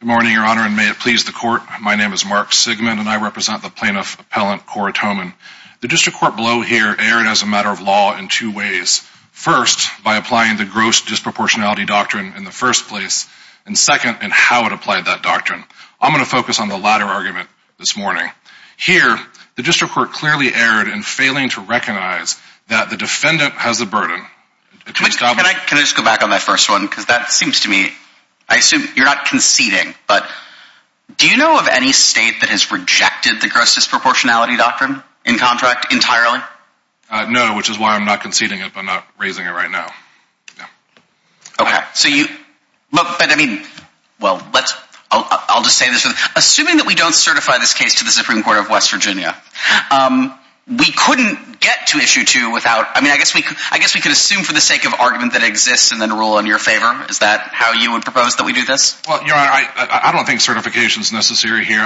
Good morning, Your Honor, and may it please the Court, my name is Mark Sigmund and I represent the Plaintiff Appellant Corotoman. The District Court below here erred as a matter of law in two ways. First, by applying the Gross Disproportionality Doctrine in the first place, and second, in how it applied that doctrine. I'm going to focus on the latter argument this morning. Here, the District Court clearly erred in failing to recognize that the defendant has a burden. Can I just go back on that first one? Because that seems to me, I assume you're not conceding, but do you know of any state that has rejected the Gross Disproportionality Doctrine in contract entirely? No, which is why I'm not conceding it, but not raising it right now. Okay, so you, look, but I mean, well, let's, I'll just say this, assuming that we don't certify this case to the Supreme Court of West Virginia, we couldn't get to Issue 2 without, I mean, I guess we could assume for the sake of argument that exists and then settle in your favor? Is that how you would propose that we do this? Well, you know, I don't think certification is necessary here.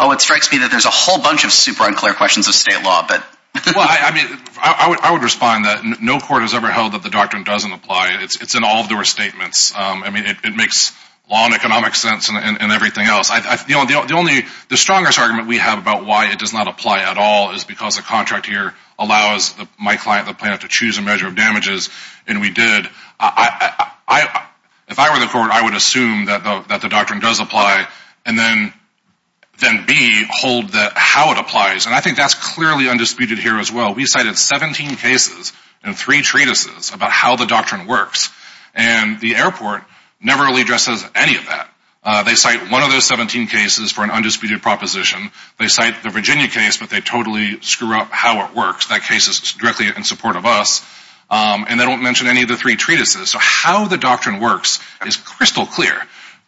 Oh, it strikes me that there's a whole bunch of super unclear questions of state law, but... Well, I mean, I would respond that no court has ever held that the doctrine doesn't apply. It's in all of their statements. I mean, it makes law and economic sense and everything else. The only, the strongest argument we have about why it does not apply at all is because the contract here allows my client, the plaintiff, to choose a measure of damages, and we did. I, if I were the court, I would assume that the doctrine does apply and then B, hold that how it applies, and I think that's clearly undisputed here as well. We cited 17 cases and three treatises about how the doctrine works, and the airport never really addresses any of that. They cite one of those 17 cases for an undisputed proposition. They cite the Virginia case, but they totally screw up how it works. That case is directly in support of us. And they don't mention any of the three treatises, so how the doctrine works is crystal clear.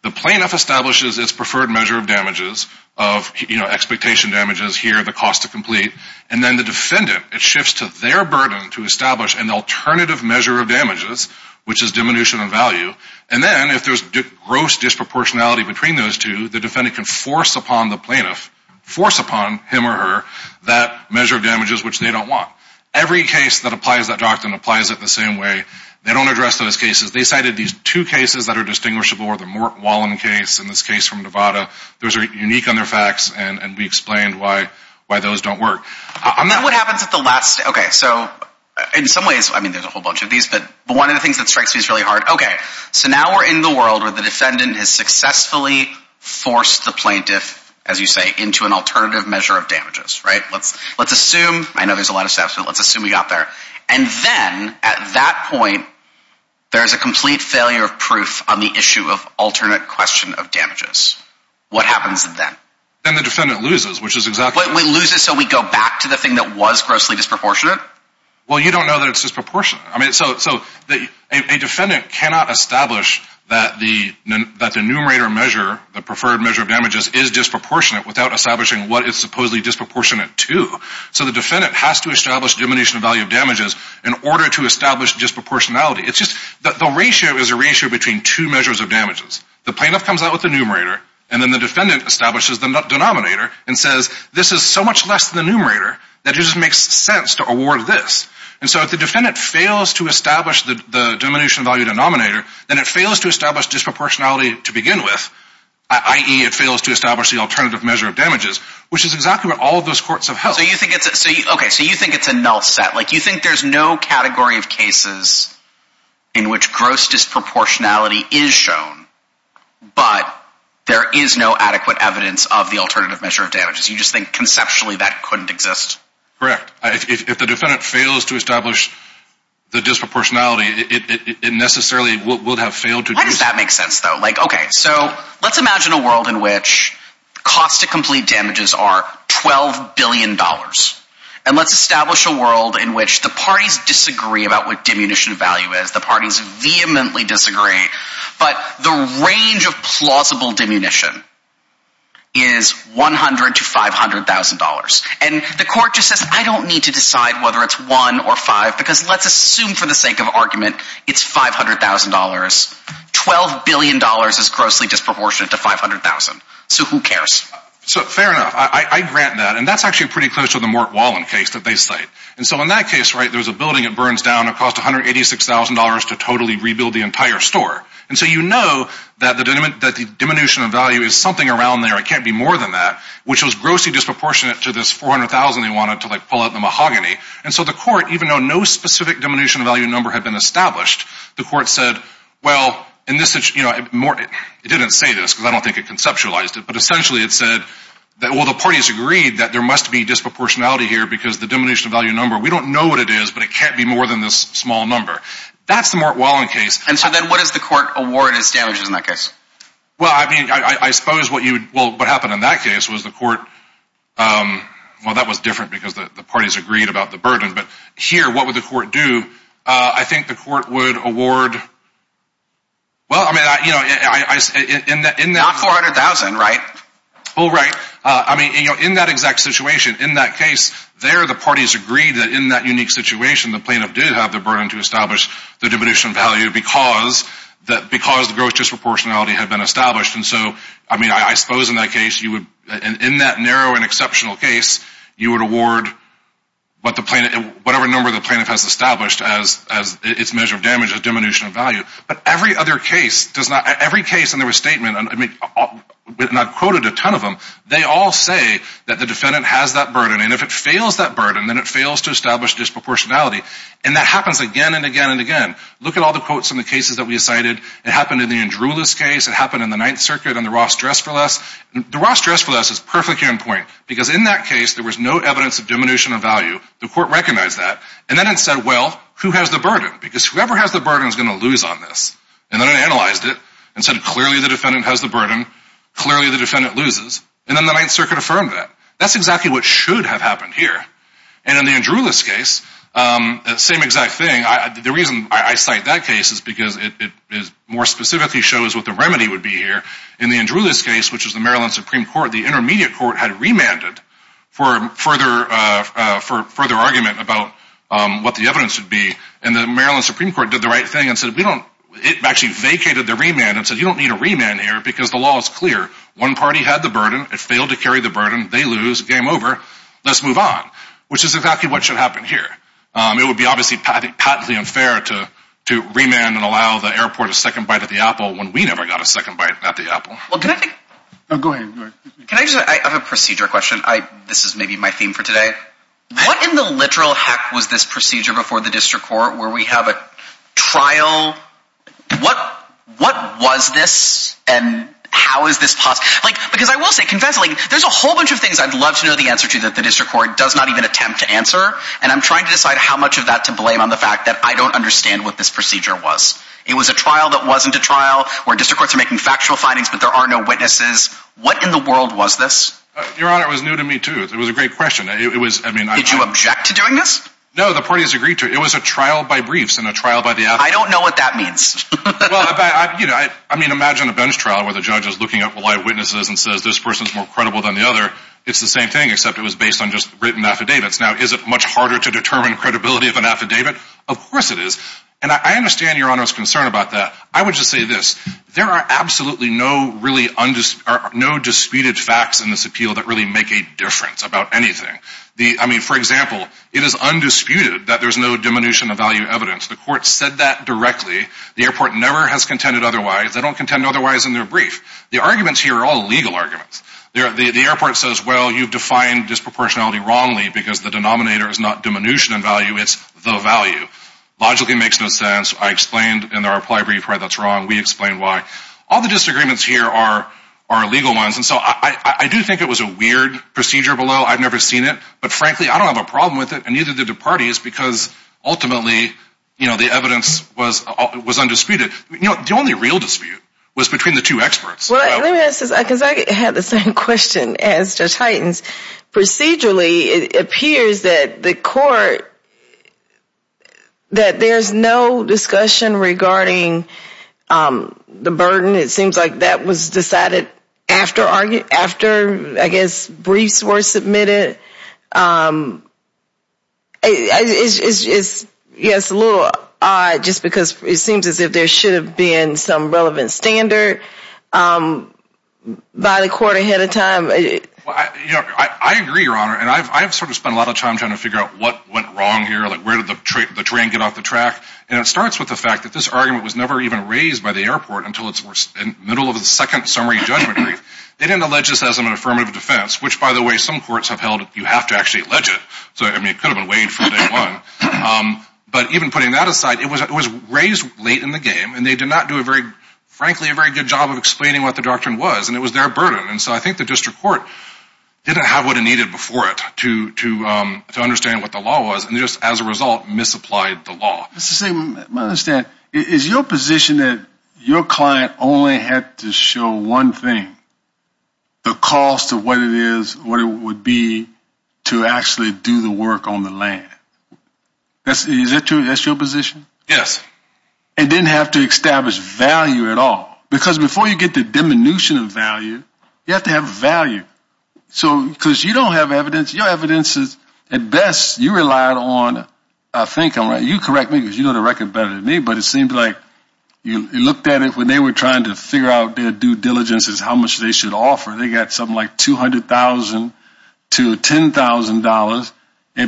The plaintiff establishes its preferred measure of damages of, you know, expectation damages here, the cost to complete, and then the defendant, it shifts to their burden to establish an alternative measure of damages, which is diminution of value, and then if there's gross disproportionality between those two, the defendant can force upon the plaintiff, force upon him or her, that measure of damages which they don't want. Every case that applies that doctrine applies it the same way. They don't address those cases. They cited these two cases that are distinguishable, the Mort Wallen case and this case from Nevada. Those are unique on their facts, and we explained why those don't work. I'm not... What happens at the last... Okay, so in some ways, I mean, there's a whole bunch of these, but one of the things that strikes me as really hard, okay, so now we're in the world where the defendant has successfully forced the plaintiff, as you say, into an alternative measure of damages, right? Let's assume... I know there's a lot of steps, but let's assume we got there, and then at that point, there's a complete failure of proof on the issue of alternate question of damages. What happens then? Then the defendant loses, which is exactly... We lose it, so we go back to the thing that was grossly disproportionate? Well, you don't know that it's disproportionate. I mean, so a defendant cannot establish that the numerator measure, the preferred measure of damages is disproportionate without establishing what it's supposedly disproportionate to, so the defendant has to establish diminution of value of damages in order to establish disproportionality. It's just... The ratio is a ratio between two measures of damages. The plaintiff comes out with the numerator, and then the defendant establishes the denominator and says, this is so much less than the numerator that it just makes sense to award this, and so if the defendant fails to establish the diminution value denominator, then it fails to establish disproportionality to begin with, i.e. it fails to establish the alternative measure of damages, which is exactly what all of those courts have held. So you think it's a... Okay, so you think it's a null set. Like, you think there's no category of cases in which gross disproportionality is shown, but there is no adequate evidence of the alternative measure of damages. You just think, conceptually, that couldn't exist? Correct. Why does that make sense, though? Like, okay, so let's imagine a world in which the cost to complete damages are $12 billion, and let's establish a world in which the parties disagree about what diminution of value is, the parties vehemently disagree, but the range of plausible diminution is $100,000 to $500,000. And the court just says, I don't need to decide whether it's one or five, because let's assume for the sake of argument, it's $500,000, $12 billion is grossly disproportionate to $500,000. So who cares? So, fair enough. I grant that. And that's actually pretty close to the Mort Wallin case that they cite. And so in that case, right, there was a building that burns down, it cost $186,000 to totally rebuild the entire store. And so you know that the diminution of value is something around there, it can't be more than that, which was grossly disproportionate to this $400,000 they wanted to, like, pull out the mahogany. And so the court, even though no specific diminution of value number had been established, the court said, well, and this is, you know, it didn't say this, because I don't think it conceptualized it, but essentially it said that, well, the parties agreed that there must be disproportionality here, because the diminution of value number, we don't know what it is, but it can't be more than this small number. That's the Mort Wallin case. And so then what does the court award as damages in that case? Well, I mean, I suppose what you, well, what happened in that case was the court, well, that was different, because the parties agreed about the burden, but here, what would the court do? I think the court would award, well, I mean, you know, in that, in that, in that, in that exact situation, in that case, there the parties agreed that in that unique situation the plaintiff did have the burden to establish the diminution of value, because, because the gross disproportionality had been established. And so, I mean, I suppose in that case you would, in that narrow and exceptional case, you would award what the plaintiff, whatever number the plaintiff has established as, as its measure of damage, as diminution of value. But every other case does not, every case in the restatement, I mean, and I've quoted a ton of them, they all say that the defendant has that burden, and if it fails that burden, then it fails to establish disproportionality. And that happens again and again and again. Look at all the quotes in the cases that we cited. It happened in the Andrulis case, it happened in the Ninth Circuit and the Ross-Dress-for-Less. The Ross-Dress-for-Less is perfectly on point, because in that case there was no evidence of diminution of value. The court recognized that. And then it said, well, who has the burden? Because whoever has the burden is going to lose on this. And then it analyzed it, and said clearly the defendant has the burden, clearly the defendant loses, and then the Ninth Circuit affirmed that. That's exactly what should have happened here. And in the Andrulis case, same exact thing, the reason I cite that case is because it more specifically shows what the remedy would be here. In the Andrulis case, which is the Maryland Supreme Court, the intermediate court had remanded for further argument about what the evidence would be, and the Maryland Supreme Court did the right thing and said we don't, it actually vacated the remand and said you don't need a remand here because the law is clear. One party had the burden, it failed to carry the burden, they lose, game over, let's move on, which is exactly what should happen here. It would be obviously patently unfair to remand and allow the airport a second bite at the apple when we never got a second bite at the apple. Can I just, I have a procedure question, this is maybe my theme for today. What in the literal heck was this procedure before the district court where we have a trial, what was this, and how is this possible? Because I will say, confess, there's a whole bunch of things I'd love to know the answer to that the district court does not even attempt to answer, and I'm trying to decide how much of that to blame on the fact that I don't understand what this procedure was. It was a trial that wasn't a trial, where district courts are making factual findings but there are no witnesses, what in the world was this? Your Honor, it was new to me too. It was a great question. It was, I mean. Did you object to doing this? No, the parties agreed to it. It was a trial by briefs and a trial by the athletes. I don't know what that means. Well, you know, I mean, imagine a bench trial where the judge is looking at live witnesses and says this person is more credible than the other. It's the same thing except it was based on just written affidavits. Now, is it much harder to determine credibility of an affidavit? Of course it is. And I understand Your Honor's concern about that. I would just say this. There are absolutely no really, no disputed facts in this appeal that really make a difference about anything. I mean, for example, it is undisputed that there's no diminution of value evidence. The court said that directly. The airport never has contended otherwise. They don't contend otherwise in their brief. The arguments here are all legal arguments. The airport says, well, you've defined disproportionality wrongly because the denominator is not diminution in value. It's the value. Logically, it makes no sense. I explained in our reply brief, right? That's wrong. We explained why. All the disagreements here are our legal ones. And so I do think it was a weird procedure below. I've never seen it. But frankly, I don't have a problem with it. And neither did the parties because ultimately, you know, the evidence was was undisputed. You know, the only real dispute was between the two experts. Well, let me ask this, because I had the same question as Judge Hytens. Procedurally, it appears that the court, that there's no discussion regarding the burden. It seems like that was decided after after, I guess, briefs were submitted. It is, yes, a little odd just because it seems as if there should have been some relevant standard by the court ahead of time. I agree, Your Honor, and I've sort of spent a lot of time trying to figure out what went wrong here. Like, where did the train get off the track? And it starts with the fact that this argument was never even raised by the airport until it's in the middle of the second summary judgment. They didn't allege this as an affirmative defense, which, by the way, some courts have held you have to actually allege it. So I mean, it could have been waived from day one. But even putting that aside, it was it was raised late in the game. And they did not do a very, frankly, a very good job of explaining what the doctrine was. And it was their burden. And so I think the district court didn't have what it needed before it to to to understand what the law was. And just as a result, misapplied the law. Mr. Sigmund, my understanding is your position that your client only had to show one thing, the cost of what it is, what it would be to actually do the work on the land. That's true. That's your position. Yes. It didn't have to establish value at all. Because before you get the diminution of value, you have to have value. So because you don't have evidence, your evidence is at best you relied on, I think I'm right. You correct me because you know the record better than me. But it seems like you looked at it when they were trying to figure out their due diligence is how much they should offer. They got something like 200,000 to $10,000.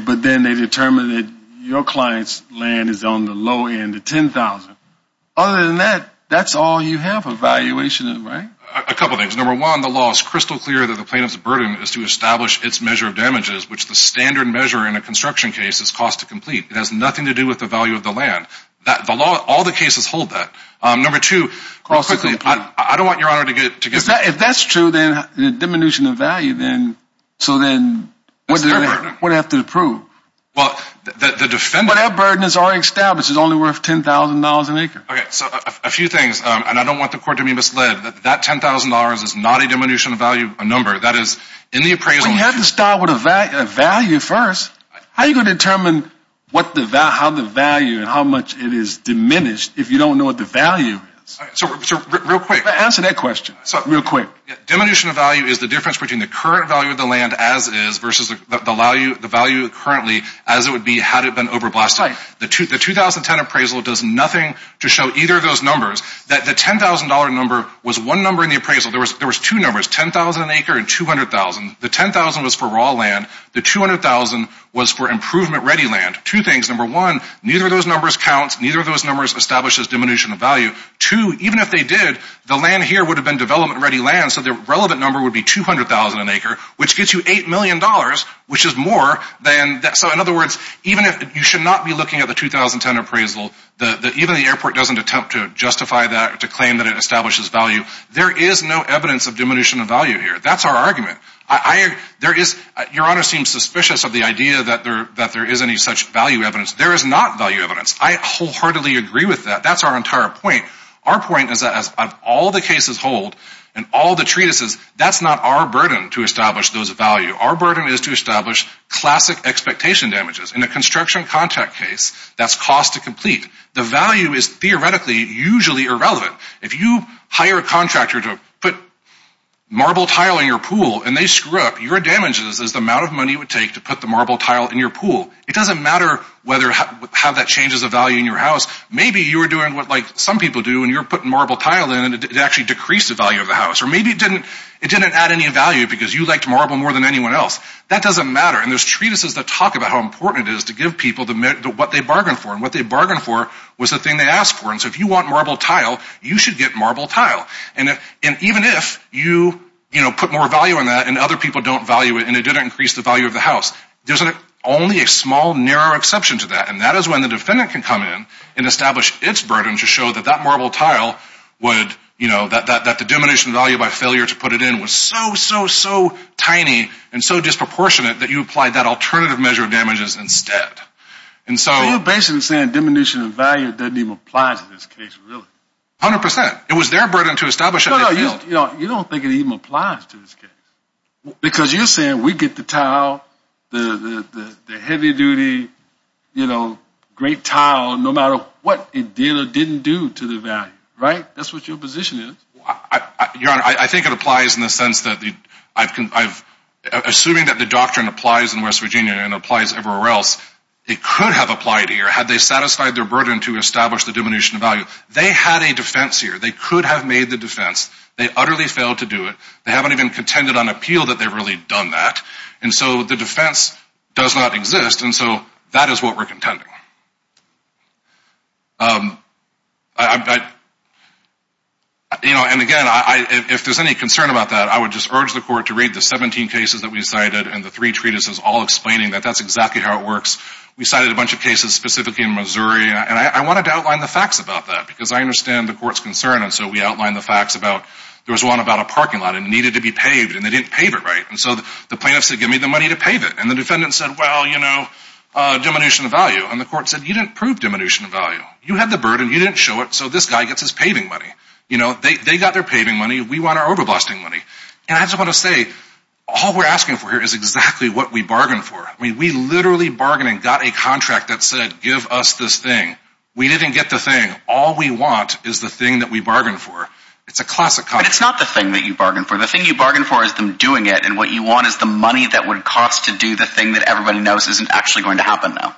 But then they determined that your client's land is on the low end, the 10,000. Other than that, that's all you have a valuation of, right? A couple of things. Number one, the law is crystal clear that the plaintiff's burden is to establish its measure of damages, which the standard measure in a construction case is cost to complete. It has nothing to do with the value of the land. All the cases hold that. Number two, I don't want your honor to get... If that's true, then the diminution of value, so then what do I have to prove? The defendant... But that burden is already established. It's only worth $10,000 an acre. So a few things, and I don't want the court to be misled, that $10,000 is not a diminution of value, a number. That is in the appraisal. Well, you have to start with a value first. How are you going to determine how the value and how much it is diminished if you don't know what the value is? All right, so real quick. Answer that question real quick. Diminution of value is the difference between the current value of the land as is versus the value currently as it would be had it been overblasted. The 2010 appraisal does nothing to show either of those numbers that the $10,000 number was one number in the appraisal. There was two numbers, 10,000 an acre and 200,000. The 10,000 was for raw land, the 200,000 was for improvement-ready land. Two things. Number one, neither of those numbers counts, neither of those numbers establishes diminution of value. Two, even if they did, the land here would have been development-ready land, so the relevant number would be 200,000 an acre, which gets you $8 million, which is more than... So in other words, you should not be looking at the 2010 appraisal, even the airport doesn't attempt to justify that or to claim that it establishes value. There is no evidence of diminution of value here. That's our argument. I... There is... Your Honor seems suspicious of the idea that there is any such value evidence. There is not value evidence. I wholeheartedly agree with that. That's our entire point. Our point is that of all the cases hold and all the treatises, that's not our burden to establish those value. Our burden is to establish classic expectation damages. In a construction contract case, that's cost to complete. The value is theoretically usually irrelevant. If you hire a contractor to put marble tile in your pool and they screw up, your damages is the amount of money it would take to put the marble tile in your pool. It doesn't matter whether... How that changes the value in your house. Maybe you were doing what some people do and you're putting marble tile in and it actually decreased the value of the house, or maybe it didn't add any value because you liked marble more than anyone else. That doesn't matter, and there's treatises that talk about how important it is to give people what they bargained for, and what they bargained for was the thing they asked for. If you want marble tile, you should get marble tile. Even if you put more value on that and other people don't value it and it didn't increase the value of the house, there's only a small, narrow exception to that, and that is when the defendant can come in and establish its burden to show that that marble tile would... That the diminishing value by failure to put it in was so, so, so tiny and so disproportionate that you applied that alternative measure of damages instead. So you're basically saying diminishing the value doesn't even apply to this case, really? 100%. It was their burden to establish that they failed. You don't think it even applies to this case, because you're saying we get the tile, the heavy duty, you know, great tile, no matter what it did or didn't do to the value, right? That's what your position is. Your Honor, I think it applies in the sense that I've... It could have applied here had they satisfied their burden to establish the diminishing value. They had a defense here. They could have made the defense. They utterly failed to do it. They haven't even contended on appeal that they've really done that, and so the defense does not exist, and so that is what we're contending. You know, and again, if there's any concern about that, I would just urge the court to read the 17 cases that we cited and the three treatises all explaining that that's exactly how it works. We cited a bunch of cases specifically in Missouri, and I wanted to outline the facts about that, because I understand the court's concern, and so we outlined the facts about there was one about a parking lot, and it needed to be paved, and they didn't pave it, right? And so the plaintiff said, give me the money to pave it, and the defendant said, well, you know, diminution of value, and the court said, you didn't prove diminution of value. You had the burden. You didn't show it, so this guy gets his paving money. You know, they got their paving money. We want our overblasting money, and I just want to say all we're asking for here is exactly what we bargained for. I mean, we literally bargained and got a contract that said, give us this thing. We didn't get the thing. All we want is the thing that we bargained for. It's a classic contract. But it's not the thing that you bargained for. The thing you bargained for is them doing it, and what you want is the money that would cost to do the thing that everybody knows isn't actually going to happen now.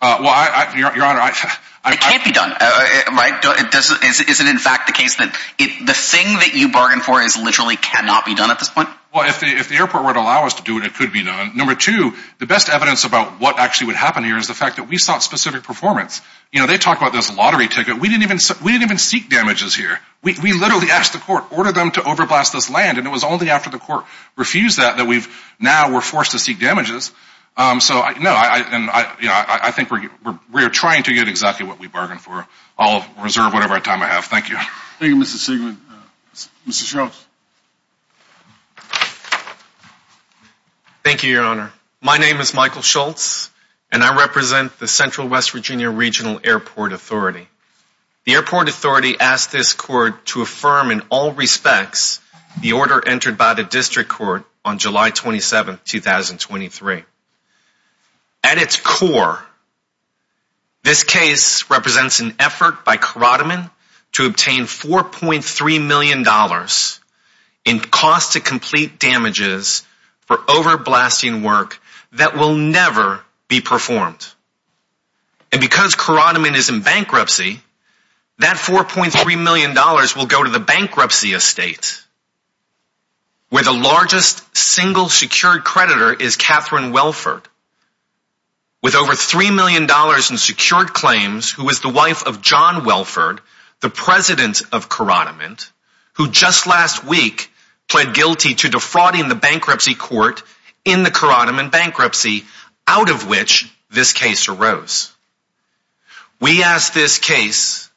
Well, Your Honor, I... It can't be done, right? Is it in fact the case that the thing that you bargained for literally cannot be done at this point? Well, if the airport were to allow us to do it, it could be done. Number two, the best evidence about what actually would happen here is the fact that we sought specific performance. You know, they talk about this lottery ticket. We didn't even seek damages here. We literally asked the court, ordered them to overblast this land, and it was only after the court refused that that we've... Now we're forced to seek damages. So, no, I think we're trying to get exactly what we bargained for. I'll reserve whatever time I have. Thank you. Thank you, Mr. Siglin. Mr. Strauss. Thank you, Your Honor. My name is Michael Schultz, and I represent the Central West Virginia Regional Airport Authority. The airport authority asked this court to affirm in all respects the order entered by the district court on July 27, 2023. At its core, this case represents an effort by Karadamon to obtain $4.3 million in costs to complete damages for overblasting work that will never be performed. And because Karadamon is in bankruptcy, that $4.3 million will go to the bankruptcy estate where the largest single secured creditor is Catherine Welford, with over $3 million in secured claims, who is the wife of John Welford, the president of Karadamon, who just last week pled guilty to defrauding the bankruptcy court in the Karadamon bankruptcy, out of which this case arose. We ask this case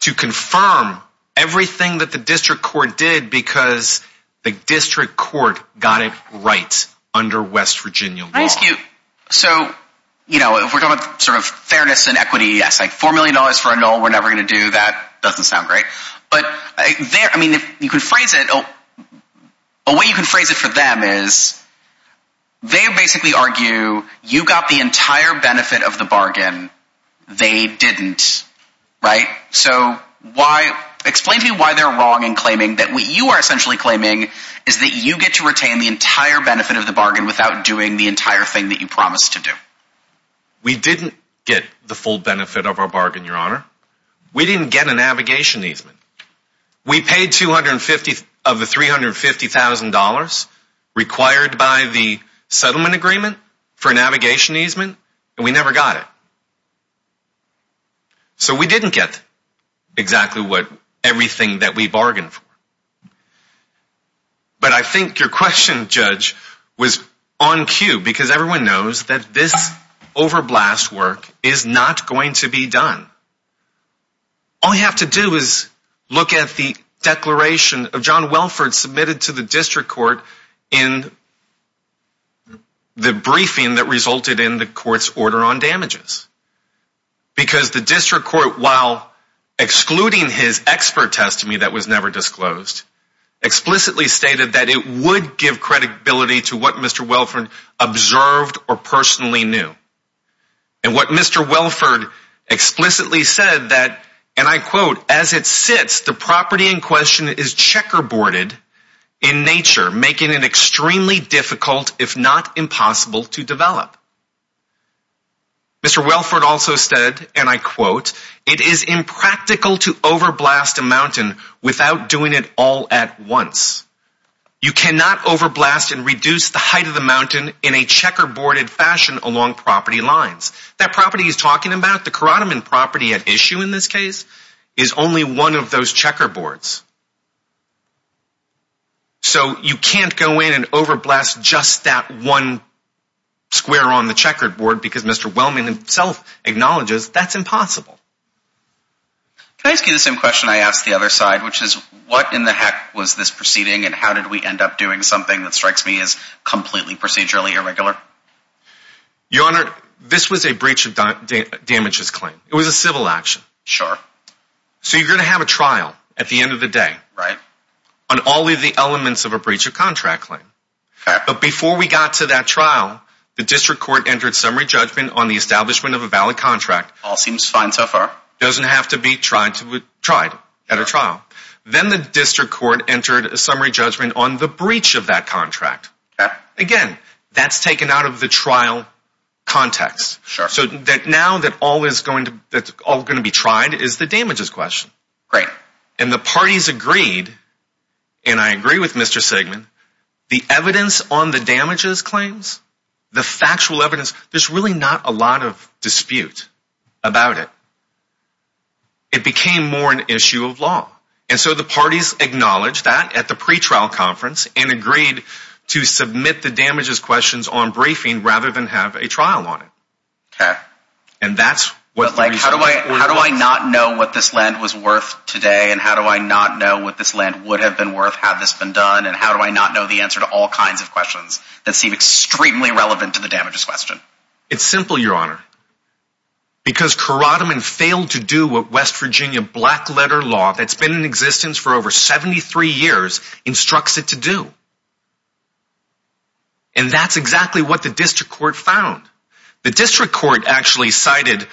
to confirm everything that the district court did because the district court got it right under West Virginia law. Can I ask you, so, you know, if we're talking about sort of fairness and equity, yes, like $4 million for a null, we're never going to do that. Doesn't sound great. But there, I mean, if you can phrase it, a way you can phrase it for them is they basically argue you got the entire benefit of the bargain. They didn't. Right. So why? Explain to me why they're wrong in claiming that what you are essentially claiming is that you get to retain the entire benefit of the bargain without doing the entire thing that you promised to do. We didn't get the full benefit of our bargain, Your Honor. We didn't get a navigation easement. We paid 250 of the $350,000 required by the settlement agreement for navigation easement, and we never got it. So we didn't get exactly what everything that we bargained for. But I think your question, Judge, was on cue because everyone knows that this overblast work is not going to be done. All you have to do is look at the declaration of John Welford submitted to the district court in the briefing that resulted in the court's order on damages because the district court, while excluding his expert testimony that was never disclosed, explicitly stated that it would give credibility to what Mr. Welford observed or personally knew. And what Mr. Welford explicitly said that, and I quote, as it sits, the property in question is checkerboarded in nature, making it extremely difficult, if not impossible, to develop. Mr. Welford also said, and I quote, it is impractical to overblast a mountain without doing it all at once. You cannot overblast and reduce the height of the mountain in a checkerboarded fashion along property lines. That property he's talking about, the Karadimon property at issue in this case, is only one of those checkerboards. So you can't go in and overblast just that one square on the checkerboard because Mr. Wellman himself acknowledges that's impossible. Can I ask you the same question I asked the other side, which is what in the heck was this proceeding and how did we end up doing something that strikes me as completely procedurally irregular? Your Honor, this was a breach of damages claim. It was a civil action. Sure. So you're going to have a trial at the end of the day. Right. On all of the elements of a breach of contract claim. Okay. But before we got to that trial, the district court entered summary judgment on the establishment of a valid contract. All seems fine so far. Doesn't have to be tried at a trial. Then the district court entered a summary judgment on the breach of that contract. Okay. Again, that's taken out of the trial context. Sure. So now that all is going to be tried is the damages question. Great. And the parties agreed, and I agree with Mr. Sigmund, the evidence on the damages claims, the factual evidence, there's really not a lot of dispute about it. It became more an issue of law. And so the parties acknowledged that at the pretrial conference and agreed to submit the damages questions on briefing rather than have a trial on it. Okay. And that's what- How do I not know what this land was worth today? And how do I not know what this land would have been worth had this been done? And how do I not know the answer to all kinds of questions that seem extremely relevant to the damages question? It's simple, Your Honor. Because Karadaman failed to do what West Virginia black letter law that's been in existence for over 73 years instructs it to do. And that's exactly what the district court found. The district court actually cited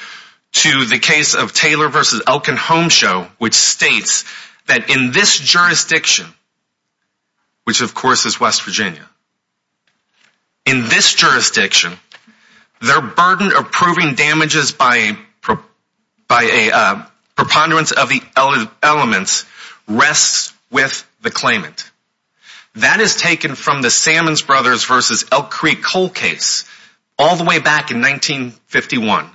to the case of Taylor versus Elkin Homeshow, which states that in this jurisdiction, which of course is West Virginia, in this jurisdiction, their burden approving damages by a preponderance of the elements rests with the claimant. That is taken from the Salmons Brothers versus Elk Creek Coal case all the way back in 1951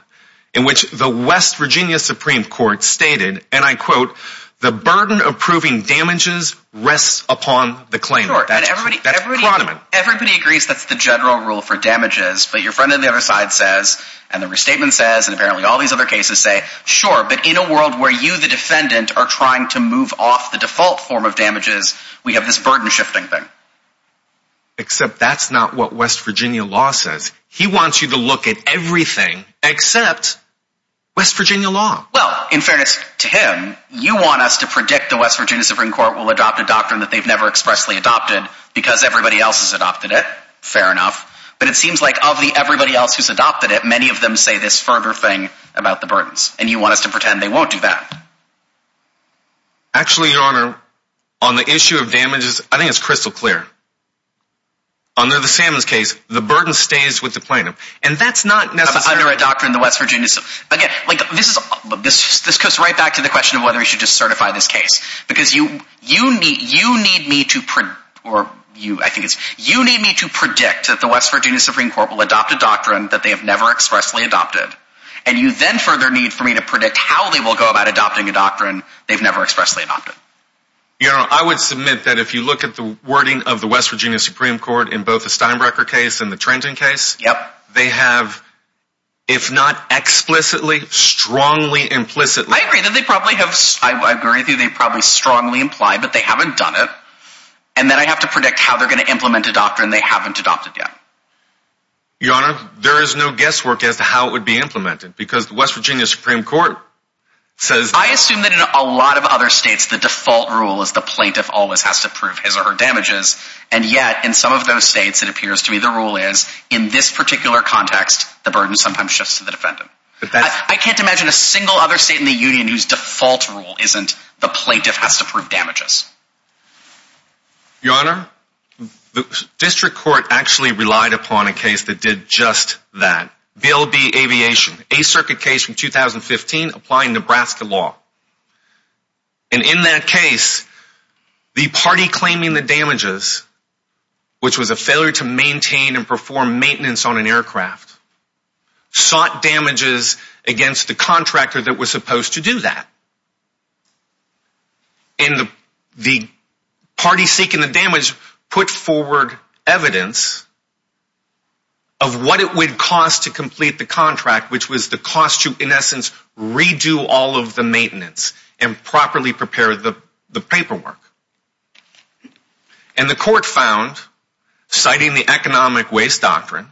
in which the West Virginia Supreme Court stated, and I quote, the burden approving damages rests upon the claimant. That's Karadaman. Everybody agrees that's the general rule for damages, but your friend on the other side says, and the restatement says, and apparently all these other cases say, sure, but in a world where you, the defendant, are trying to move off the default form of damages, we have this burden shifting thing. Except that's not what West Virginia law says. He wants you to look at everything except West Virginia law. Well, in fairness to him, you want us to predict the West Virginia Supreme Court will adopt a doctrine that they've never expressly adopted because everybody else has adopted it. Fair enough. But it seems like of the everybody else who's adopted it, many of them say this further thing about the burdens. And you want us to pretend they won't do that. Actually, Your Honor, on the issue of damages, I think it's crystal clear. Under the Salmons case, the burden stays with the claimant. And that's not necessarily— Under a doctrine the West Virginia— Again, this goes right back to the question of whether we should just certify this case. Because you need me to predict that the West Virginia Supreme Court will adopt a doctrine that they have never expressly adopted. And you then further need for me to predict how they will go about adopting a doctrine they've never expressly adopted. Your Honor, I would submit that if you look at the wording of the West Virginia Supreme Court in both the Steinbrecher case and the Trenton case, they have, if not explicitly, strongly implicitly— I agree that they probably have—I agree with you. They probably strongly imply, but they haven't done it. And then I have to predict how they're going to implement a doctrine they haven't adopted yet. Your Honor, there is no guesswork as to how it would be implemented. Because the West Virginia Supreme Court says— I assume that in a lot of other states, the default rule is the plaintiff always has to prove his or her damages. And yet, in some of those states, it appears to me the rule is, in this particular context, the burden sometimes shifts to the defendant. I can't imagine a single other state in the Union whose default rule isn't the plaintiff has to prove damages. Your Honor, the district court actually relied upon a case that did just that. BLB Aviation, a circuit case from 2015 applying Nebraska law. And in that case, the party claiming the damages, which was a failure to maintain and perform maintenance on an aircraft, sought damages against the contractor that was supposed to do that. And the party seeking the damage put forward evidence of what it would cost to complete the contract, which was the cost to, in essence, redo all of the maintenance and properly prepare the paperwork. And the court found, citing the economic waste doctrine,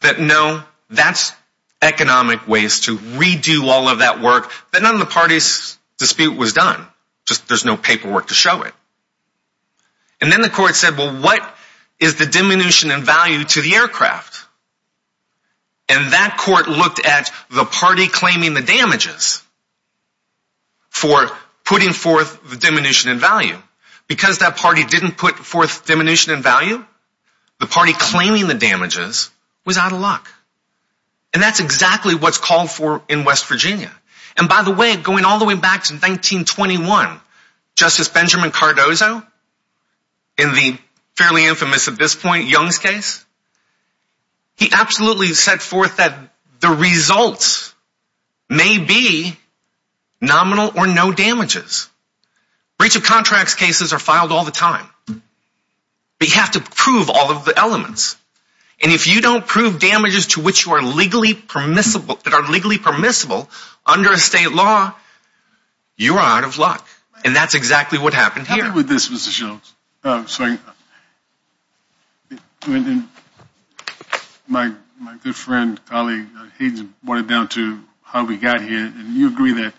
that no, that's economic waste to redo all of that work, that none of the party's dispute was done. Just there's no paperwork to show it. And then the court said, well, what is the diminution in value to the aircraft? And that court looked at the party claiming the damages for putting forth the diminution in value. Because that party didn't put forth diminution in value, the party claiming the damages was out of luck. And that's exactly what's called for in West Virginia. And by the way, going all the way back to 1921, Justice Benjamin Cardozo, in the fairly infamous at this point Young's case, he absolutely set forth that the results may be nominal or no damages. Breach of contracts cases are filed all the time. But you have to prove all of the elements. And if you don't prove damages to which you are legally permissible, that are legally permissible under a state law, you are out of luck. And that's exactly what happened here. How about this, Mr. Jones? My good friend, colleague, he brought it down to how we got here. And you agree that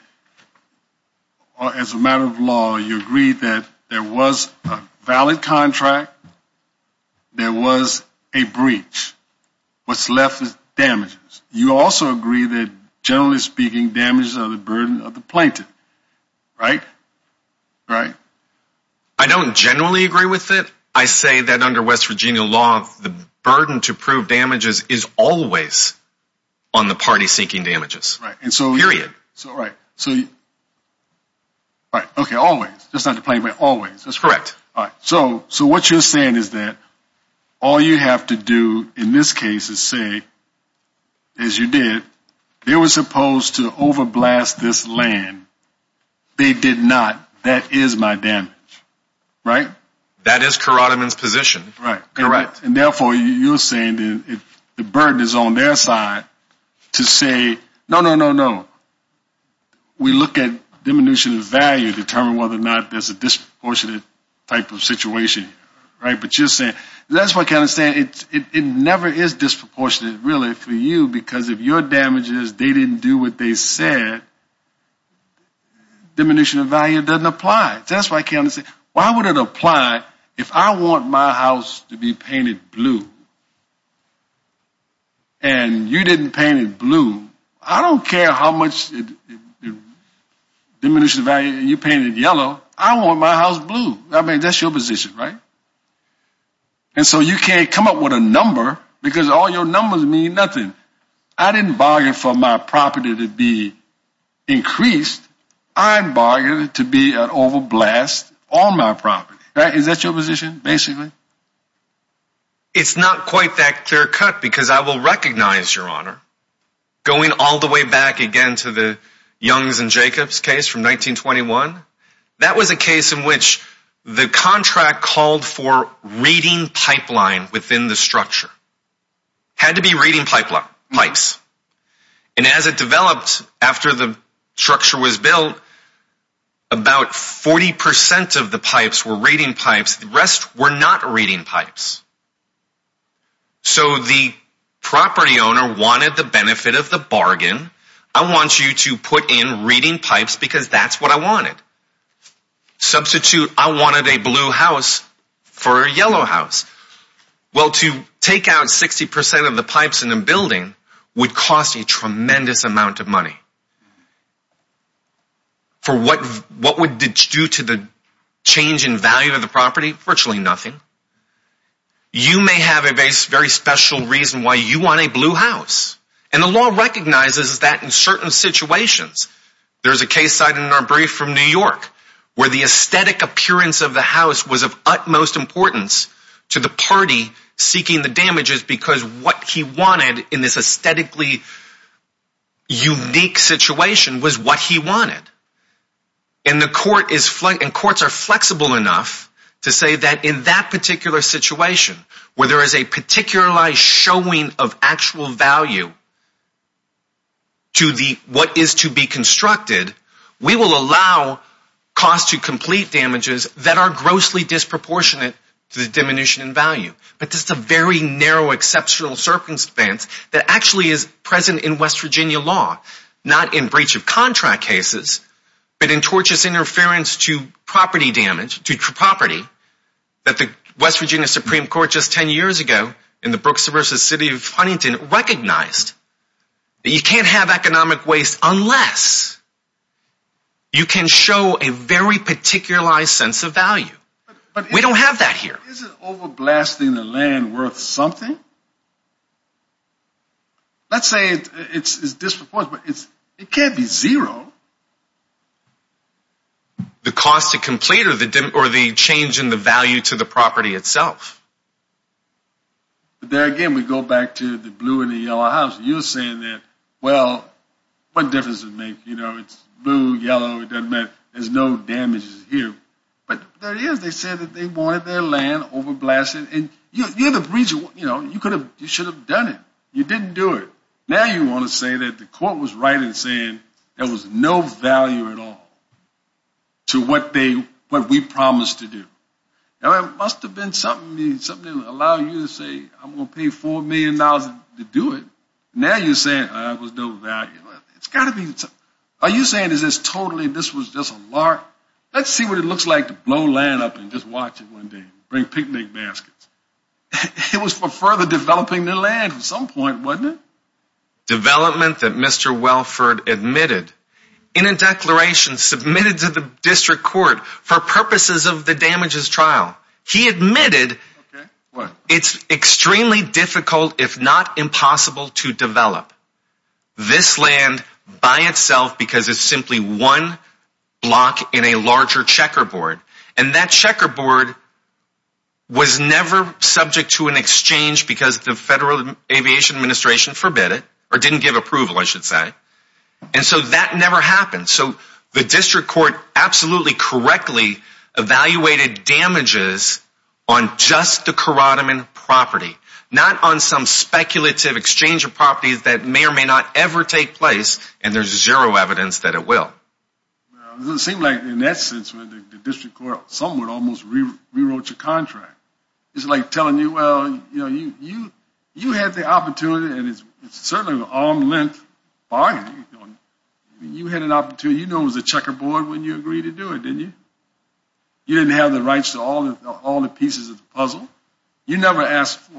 as a matter of law, you agree that there was a valid contract. There was a breach. What's left is damages. You also agree that, generally speaking, damages are the burden of the plaintiff. Right? Right? I don't generally agree with it. I say that under West Virginia law, the burden to prove damages is always on the party seeking damages. Period. Right. So, okay, always. Just not the plaintiff, but always. That's correct. So what you're saying is that all you have to do in this case is say, as you did, they were supposed to overblast this land. They did not. That is my damage. Right? That is Karadiman's position. Correct. And therefore, you're saying the burden is on their side to say, no, no, no, no. We look at diminution of value to determine whether or not there's a disproportionate type of situation. Right? But you're saying, that's why I'm kind of saying it never is disproportionate, really, for you, because if your damages, they didn't do what they said, diminution of value doesn't apply. That's why I can't understand. Why would it apply if I want my house to be painted blue and you didn't paint it blue? I don't care how much diminution of value you painted yellow. I want my house blue. I mean, that's your position, right? And so you can't come up with a number because all your numbers mean nothing. I didn't bargain for my property to be increased. I bargained to be an overblast on my property. Is that your position, basically? It's not quite that clear cut, because I will recognize, Your Honor, going all the way back again to the Youngs and Jacobs case from 1921, that was a case in which the contract called for reading pipeline within the structure. Had to be reading pipes. And as it developed after the structure was built, about 40% of the pipes were reading pipes. The rest were not reading pipes. So the property owner wanted the benefit of the bargain. I want you to put in reading pipes because that's what I wanted. Substitute, I wanted a blue house for a yellow house. Well, to take out 60% of the pipes in the building would cost a tremendous amount of money. For what would it do to the change in value of the property? Virtually nothing. You may have a very special reason why you want a blue house. And the law recognizes that in certain situations. There's a case cited in our brief from New York, where the aesthetic appearance of the house was of utmost importance to the party seeking the damages because what he wanted in this aesthetically unique situation was what he wanted. And courts are flexible enough to say that in that particular situation, where there is a particularized showing of actual value to what is to be constructed, we will allow cost to complete damages that are grossly disproportionate to the diminution in value. But this is a very narrow exceptional circumstance that actually is present in West Virginia law. Not in breach of contract cases, but in tortious interference to property damage, to property, that the West Virginia Supreme Court just 10 years ago in the Brooks vs. City of Huntington, recognized that you can't have economic waste unless you can show a very particularized sense of value. We don't have that here. Is it overblasting the land worth something? Let's say it's disproportionate. It can't be zero. The cost to complete or the change in the value to the property itself? There again, we go back to the blue and the yellow house. You're saying that, well, what difference does it make? You know, it's blue, yellow, it doesn't matter. There's no damages here. But there is. They said that they wanted their land overblasted. And, you know, you should have done it. You didn't do it. Now you want to say that the court was right in saying there was no value at all to what we promised to do. It must have been something to allow you to say I'm going to pay $4 million to do it. Now you're saying there was no value. Are you saying this is totally, this was just a lark? Let's see what it looks like to blow land up and just watch it one day, bring picnic baskets. It was for further developing the land at some point, wasn't it? Development that Mr. Welford admitted in a declaration submitted to the district court for purposes of the damages trial. He admitted it's extremely difficult, if not impossible, to develop this land by itself because it's simply one block in a larger checkerboard. And that checkerboard was never subject to an exchange because the Federal Aviation Administration forbid it, or didn't give approval, I should say. And so that never happened. So the district court absolutely correctly evaluated damages on just the Corotoman property, not on some speculative exchange of properties that may or may not ever take place, and there's zero evidence that it will. It seemed like in that sense the district court somewhat almost rewrote your contract. It's like telling you, well, you had the opportunity, and it's certainly an arm's length bargain. You had an opportunity. You knew it was a checkerboard when you agreed to do it, didn't you? You never asked for a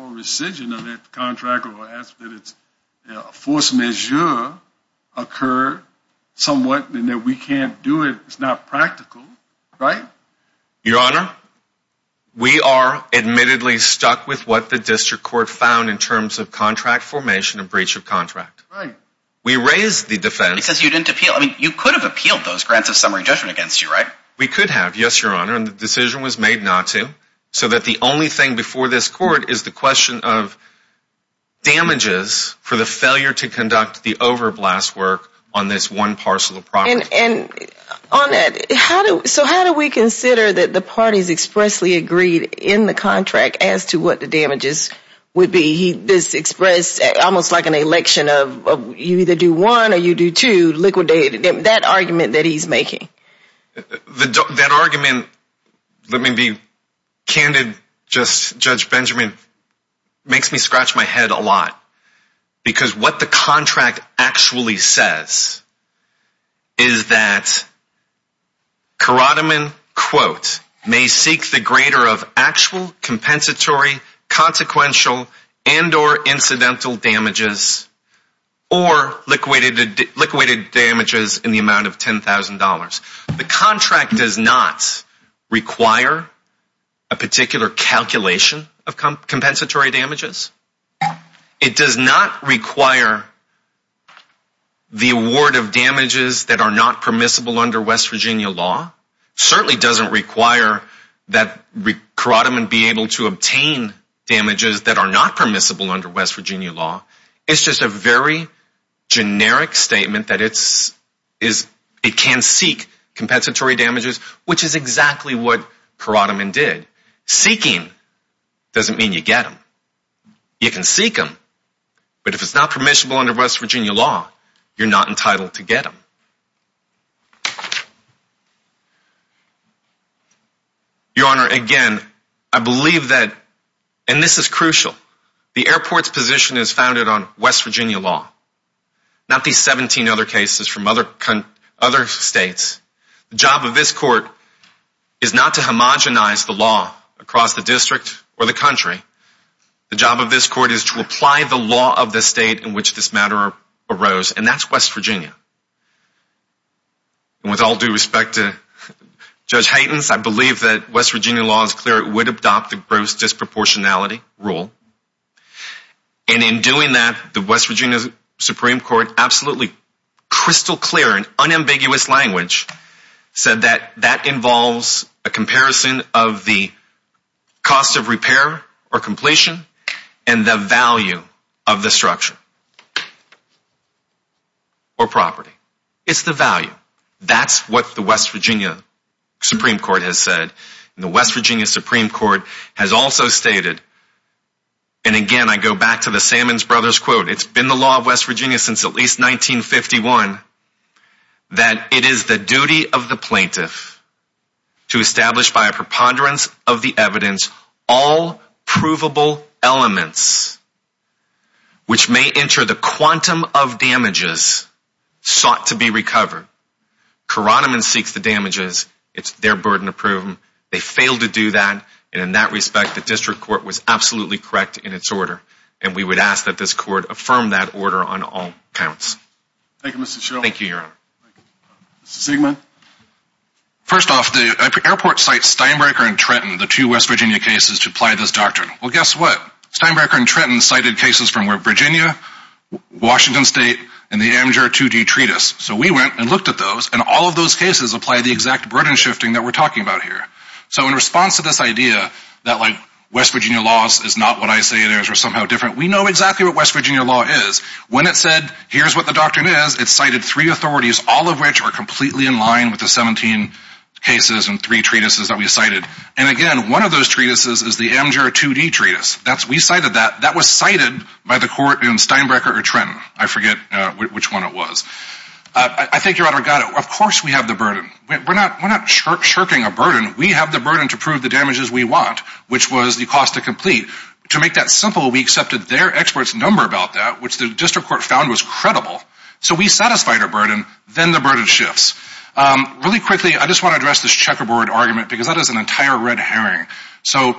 rescission of that contract or asked that a force majeure occur somewhat and that we can't do it. It's not practical, right? Your Honor, we are admittedly stuck with what the district court found in terms of contract formation and breach of contract. Right. We raised the defense. Because you didn't appeal. I mean, you could have appealed those grants of summary judgment against you, right? We could have, yes, Your Honor. And the decision was made not to. So that the only thing before this court is the question of damages for the failure to conduct the overblast work on this one parcel of property. And on that, so how do we consider that the parties expressly agreed in the contract as to what the damages would be? This expressed almost like an election of you either do one or you do two, liquidated, that argument that he's making. That argument, let me be candid, just Judge Benjamin, makes me scratch my head a lot. Because what the contract actually says is that Karadaman, quote, may seek the greater of actual compensatory, consequential, and or incidental damages or liquidated damages in the amount of $10,000. The contract does not require a particular calculation of compensatory damages. It does not require the award of damages that are not permissible under West Virginia law. Certainly doesn't require that Karadaman be able to obtain damages that are not permissible under West Virginia law. It's just a very generic statement that it can seek compensatory damages, which is exactly what Karadaman did. Seeking doesn't mean you get them. You can seek them, but if it's not permissible under West Virginia law, you're not entitled to get them. Your Honor, again, I believe that, and this is crucial, the airport's position is founded on West Virginia law. Not these 17 other cases from other states. The job of this court is not to homogenize the law across the district or the country. The job of this court is to apply the law of the state in which this matter arose, and that's West Virginia. And with all due respect to Judge Haytens, I believe that West Virginia law is clear it would adopt the gross disproportionality rule. And in doing that, the West Virginia Supreme Court, absolutely crystal clear and unambiguous language, said that that involves a comparison of the cost of repair or completion and the value of the structure or property. It's the value. That's what the West Virginia Supreme Court has said. And the West Virginia Supreme Court has also stated, and again I go back to the Salmon Brothers quote, it's been the law of West Virginia since at least 1951, that it is the duty of the plaintiff to establish by a preponderance of the evidence all provable elements which may enter the quantum of damages sought to be recovered. Koroneman seeks the damages. It's their burden to prove them. They failed to do that, and in that respect, the district court was absolutely correct in its order. And we would ask that this court affirm that order on all counts. Thank you, Mr. Schill. Thank you, Your Honor. Mr. Siegman? First off, the airport cites Steinbrecher and Trenton, the two West Virginia cases, to apply this doctrine. Well, guess what? Steinbrecher and Trenton cited cases from Virginia, Washington State, and the Amateur 2D Treatise. So we went and looked at those, and all of those cases apply the exact burden shifting that we're talking about here. So in response to this idea that West Virginia laws is not what I say it is or somehow different, we know exactly what West Virginia law is. When it said, here's what the doctrine is, it cited three authorities, all of which are completely in line with the 17 cases and three treatises that we cited. And again, one of those treatises is the Amateur 2D Treatise. We cited that. That was cited by the court in Steinbrecher or Trenton. I forget which one it was. I think Your Honor got it. Of course we have the burden. We're not shirking a burden. We have the burden to prove the damages we want, which was the cost to complete. To make that simple, we accepted their expert's number about that, which the district court found was credible. So we satisfied our burden. Then the burden shifts. Really quickly, I just want to address this checkerboard argument because that is an entire red herring. So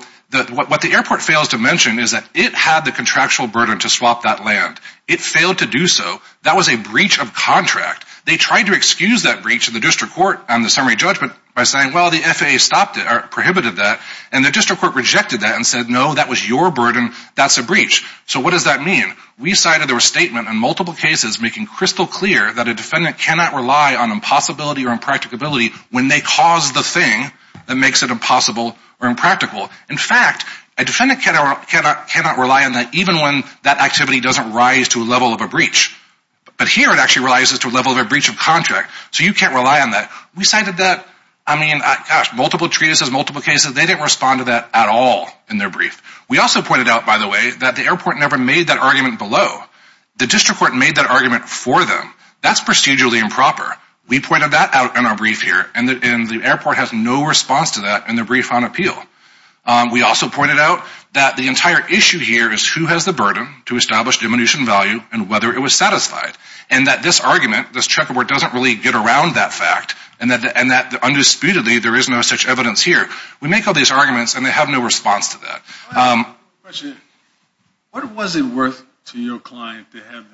what the airport fails to mention is that it had the contractual burden to swap that land. It failed to do so. That was a breach of contract. They tried to excuse that breach in the district court on the summary judgment by saying, well, the FAA stopped it or prohibited that. And the district court rejected that and said, no, that was your burden. That's a breach. So what does that mean? We cited their statement on multiple cases making crystal clear that a defendant cannot rely on impossibility or impracticability when they cause the thing that makes it impossible or impractical. In fact, a defendant cannot rely on that even when that activity doesn't rise to a level of a breach. But here it actually rises to a level of a breach of contract, so you can't rely on that. We cited that, I mean, gosh, multiple treatises, multiple cases. They didn't respond to that at all in their brief. We also pointed out, by the way, that the airport never made that argument below. The district court made that argument for them. That's procedurally improper. We pointed that out in our brief here, and the airport has no response to that in their brief on appeal. We also pointed out that the entire issue here is who has the burden to establish diminution value and whether it was satisfied. And that this argument, this checkerboard doesn't really get around that fact, and that undisputedly there is no such evidence here. We make all these arguments, and they have no response to that. What was it worth to your client to have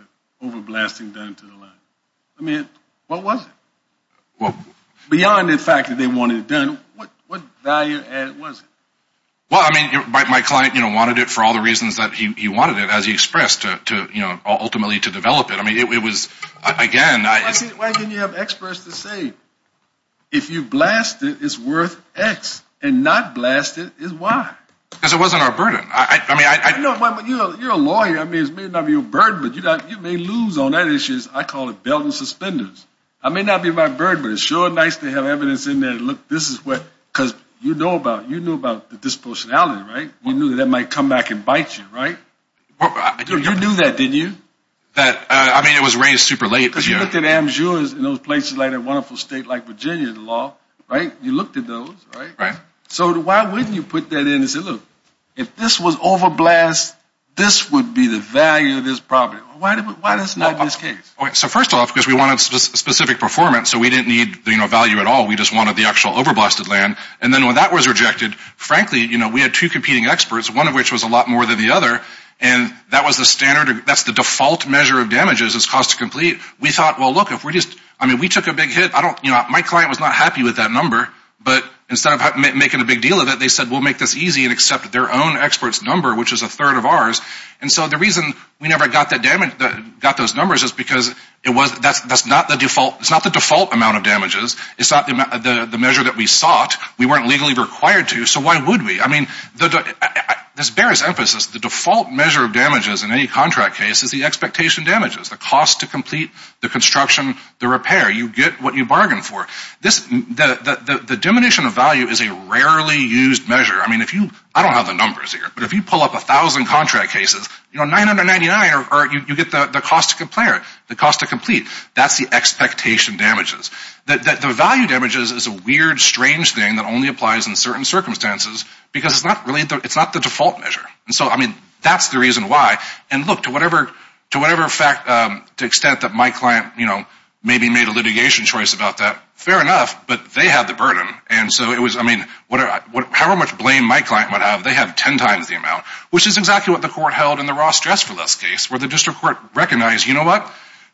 the overblasting done to the line? I mean, what was it? Beyond the fact that they wanted it done, what value was it? Well, I mean, my client wanted it for all the reasons that he wanted it, as he expressed, ultimately to develop it. I mean, it was, again, it's – Why didn't you have experts to say if you blast it, it's worth X, and not blast it is Y? Because it wasn't our burden. I mean, I – You're a lawyer. I mean, it may not be your burden, but you may lose on that issue. I call it belt and suspenders. I may not be my burden, but it's sure nice to have evidence in there that, look, this is what – because you know about the disproportionality, right? You knew that that might come back and bite you, right? You knew that, didn't you? That – I mean, it was raised super late. Because you looked at am-sures in those places like that wonderful state like Virginia, the law, right? You looked at those, right? Right. So why wouldn't you put that in and say, look, if this was overblast, this would be the value of this property. Why is it not in this case? So first off, because we wanted specific performance, so we didn't need, you know, value at all. We just wanted the actual overblasted land. And then when that was rejected, frankly, you know, we had two competing experts, one of which was a lot more than the other, and that was the standard – that's the default measure of damages is cost to complete. We thought, well, look, if we're just – I mean, we took a big hit. I don't – you know, my client was not happy with that number. But instead of making a big deal of it, they said we'll make this easy and accept their own expert's number, which is a third of ours. And so the reason we never got that damage – got those numbers is because it was – that's not the default – it's not the default amount of damages. It's not the measure that we sought. We weren't legally required to. So why would we? I mean, this bears emphasis. The default measure of damages in any contract case is the expectation damages, the cost to complete, the construction, the repair. You get what you bargain for. The diminution of value is a rarely used measure. I mean, if you – I don't have the numbers here. But if you pull up 1,000 contract cases, you know, 999, you get the cost to compare, the cost to complete. That's the expectation damages. The value damages is a weird, strange thing that only applies in certain circumstances because it's not really – it's not the default measure. And so, I mean, that's the reason why. And look, to whatever fact – to the extent that my client, you know, maybe made a litigation choice about that, fair enough, but they have the burden. And so it was – I mean, however much blame my client might have, they have ten times the amount, which is exactly what the court held in the Ross Dress for Less case where the district court recognized, you know what?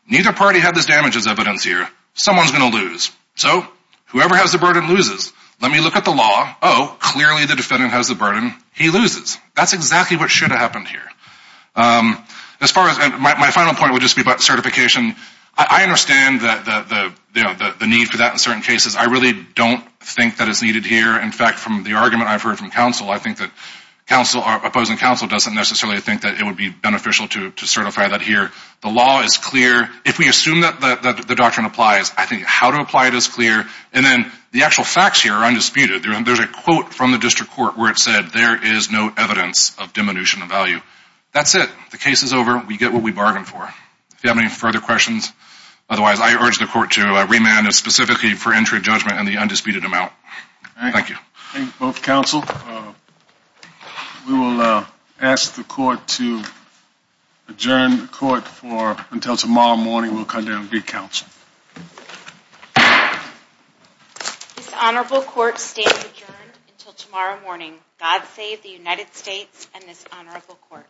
Neither party had this damages evidence here. Someone's going to lose. So whoever has the burden loses. Let me look at the law. Oh, clearly the defendant has the burden. He loses. That's exactly what should have happened here. As far as – my final point would just be about certification. I understand the need for that in certain cases. I really don't think that it's needed here. In fact, from the argument I've heard from counsel, I think that counsel – our opposing counsel doesn't necessarily think that it would be beneficial to certify that here. The law is clear. If we assume that the doctrine applies, I think how to apply it is clear. And then the actual facts here are undisputed. There's a quote from the district court where it said, there is no evidence of diminution of value. That's it. The case is over. We get what we bargained for. If you have any further questions, otherwise I urge the court to remand specifically for entry of judgment and the undisputed amount. Thank you. Thank you both, counsel. We will ask the court to adjourn the court until tomorrow morning. We'll come down and re-counsel. This honorable court stands adjourned until tomorrow morning. God save the United States and this honorable court.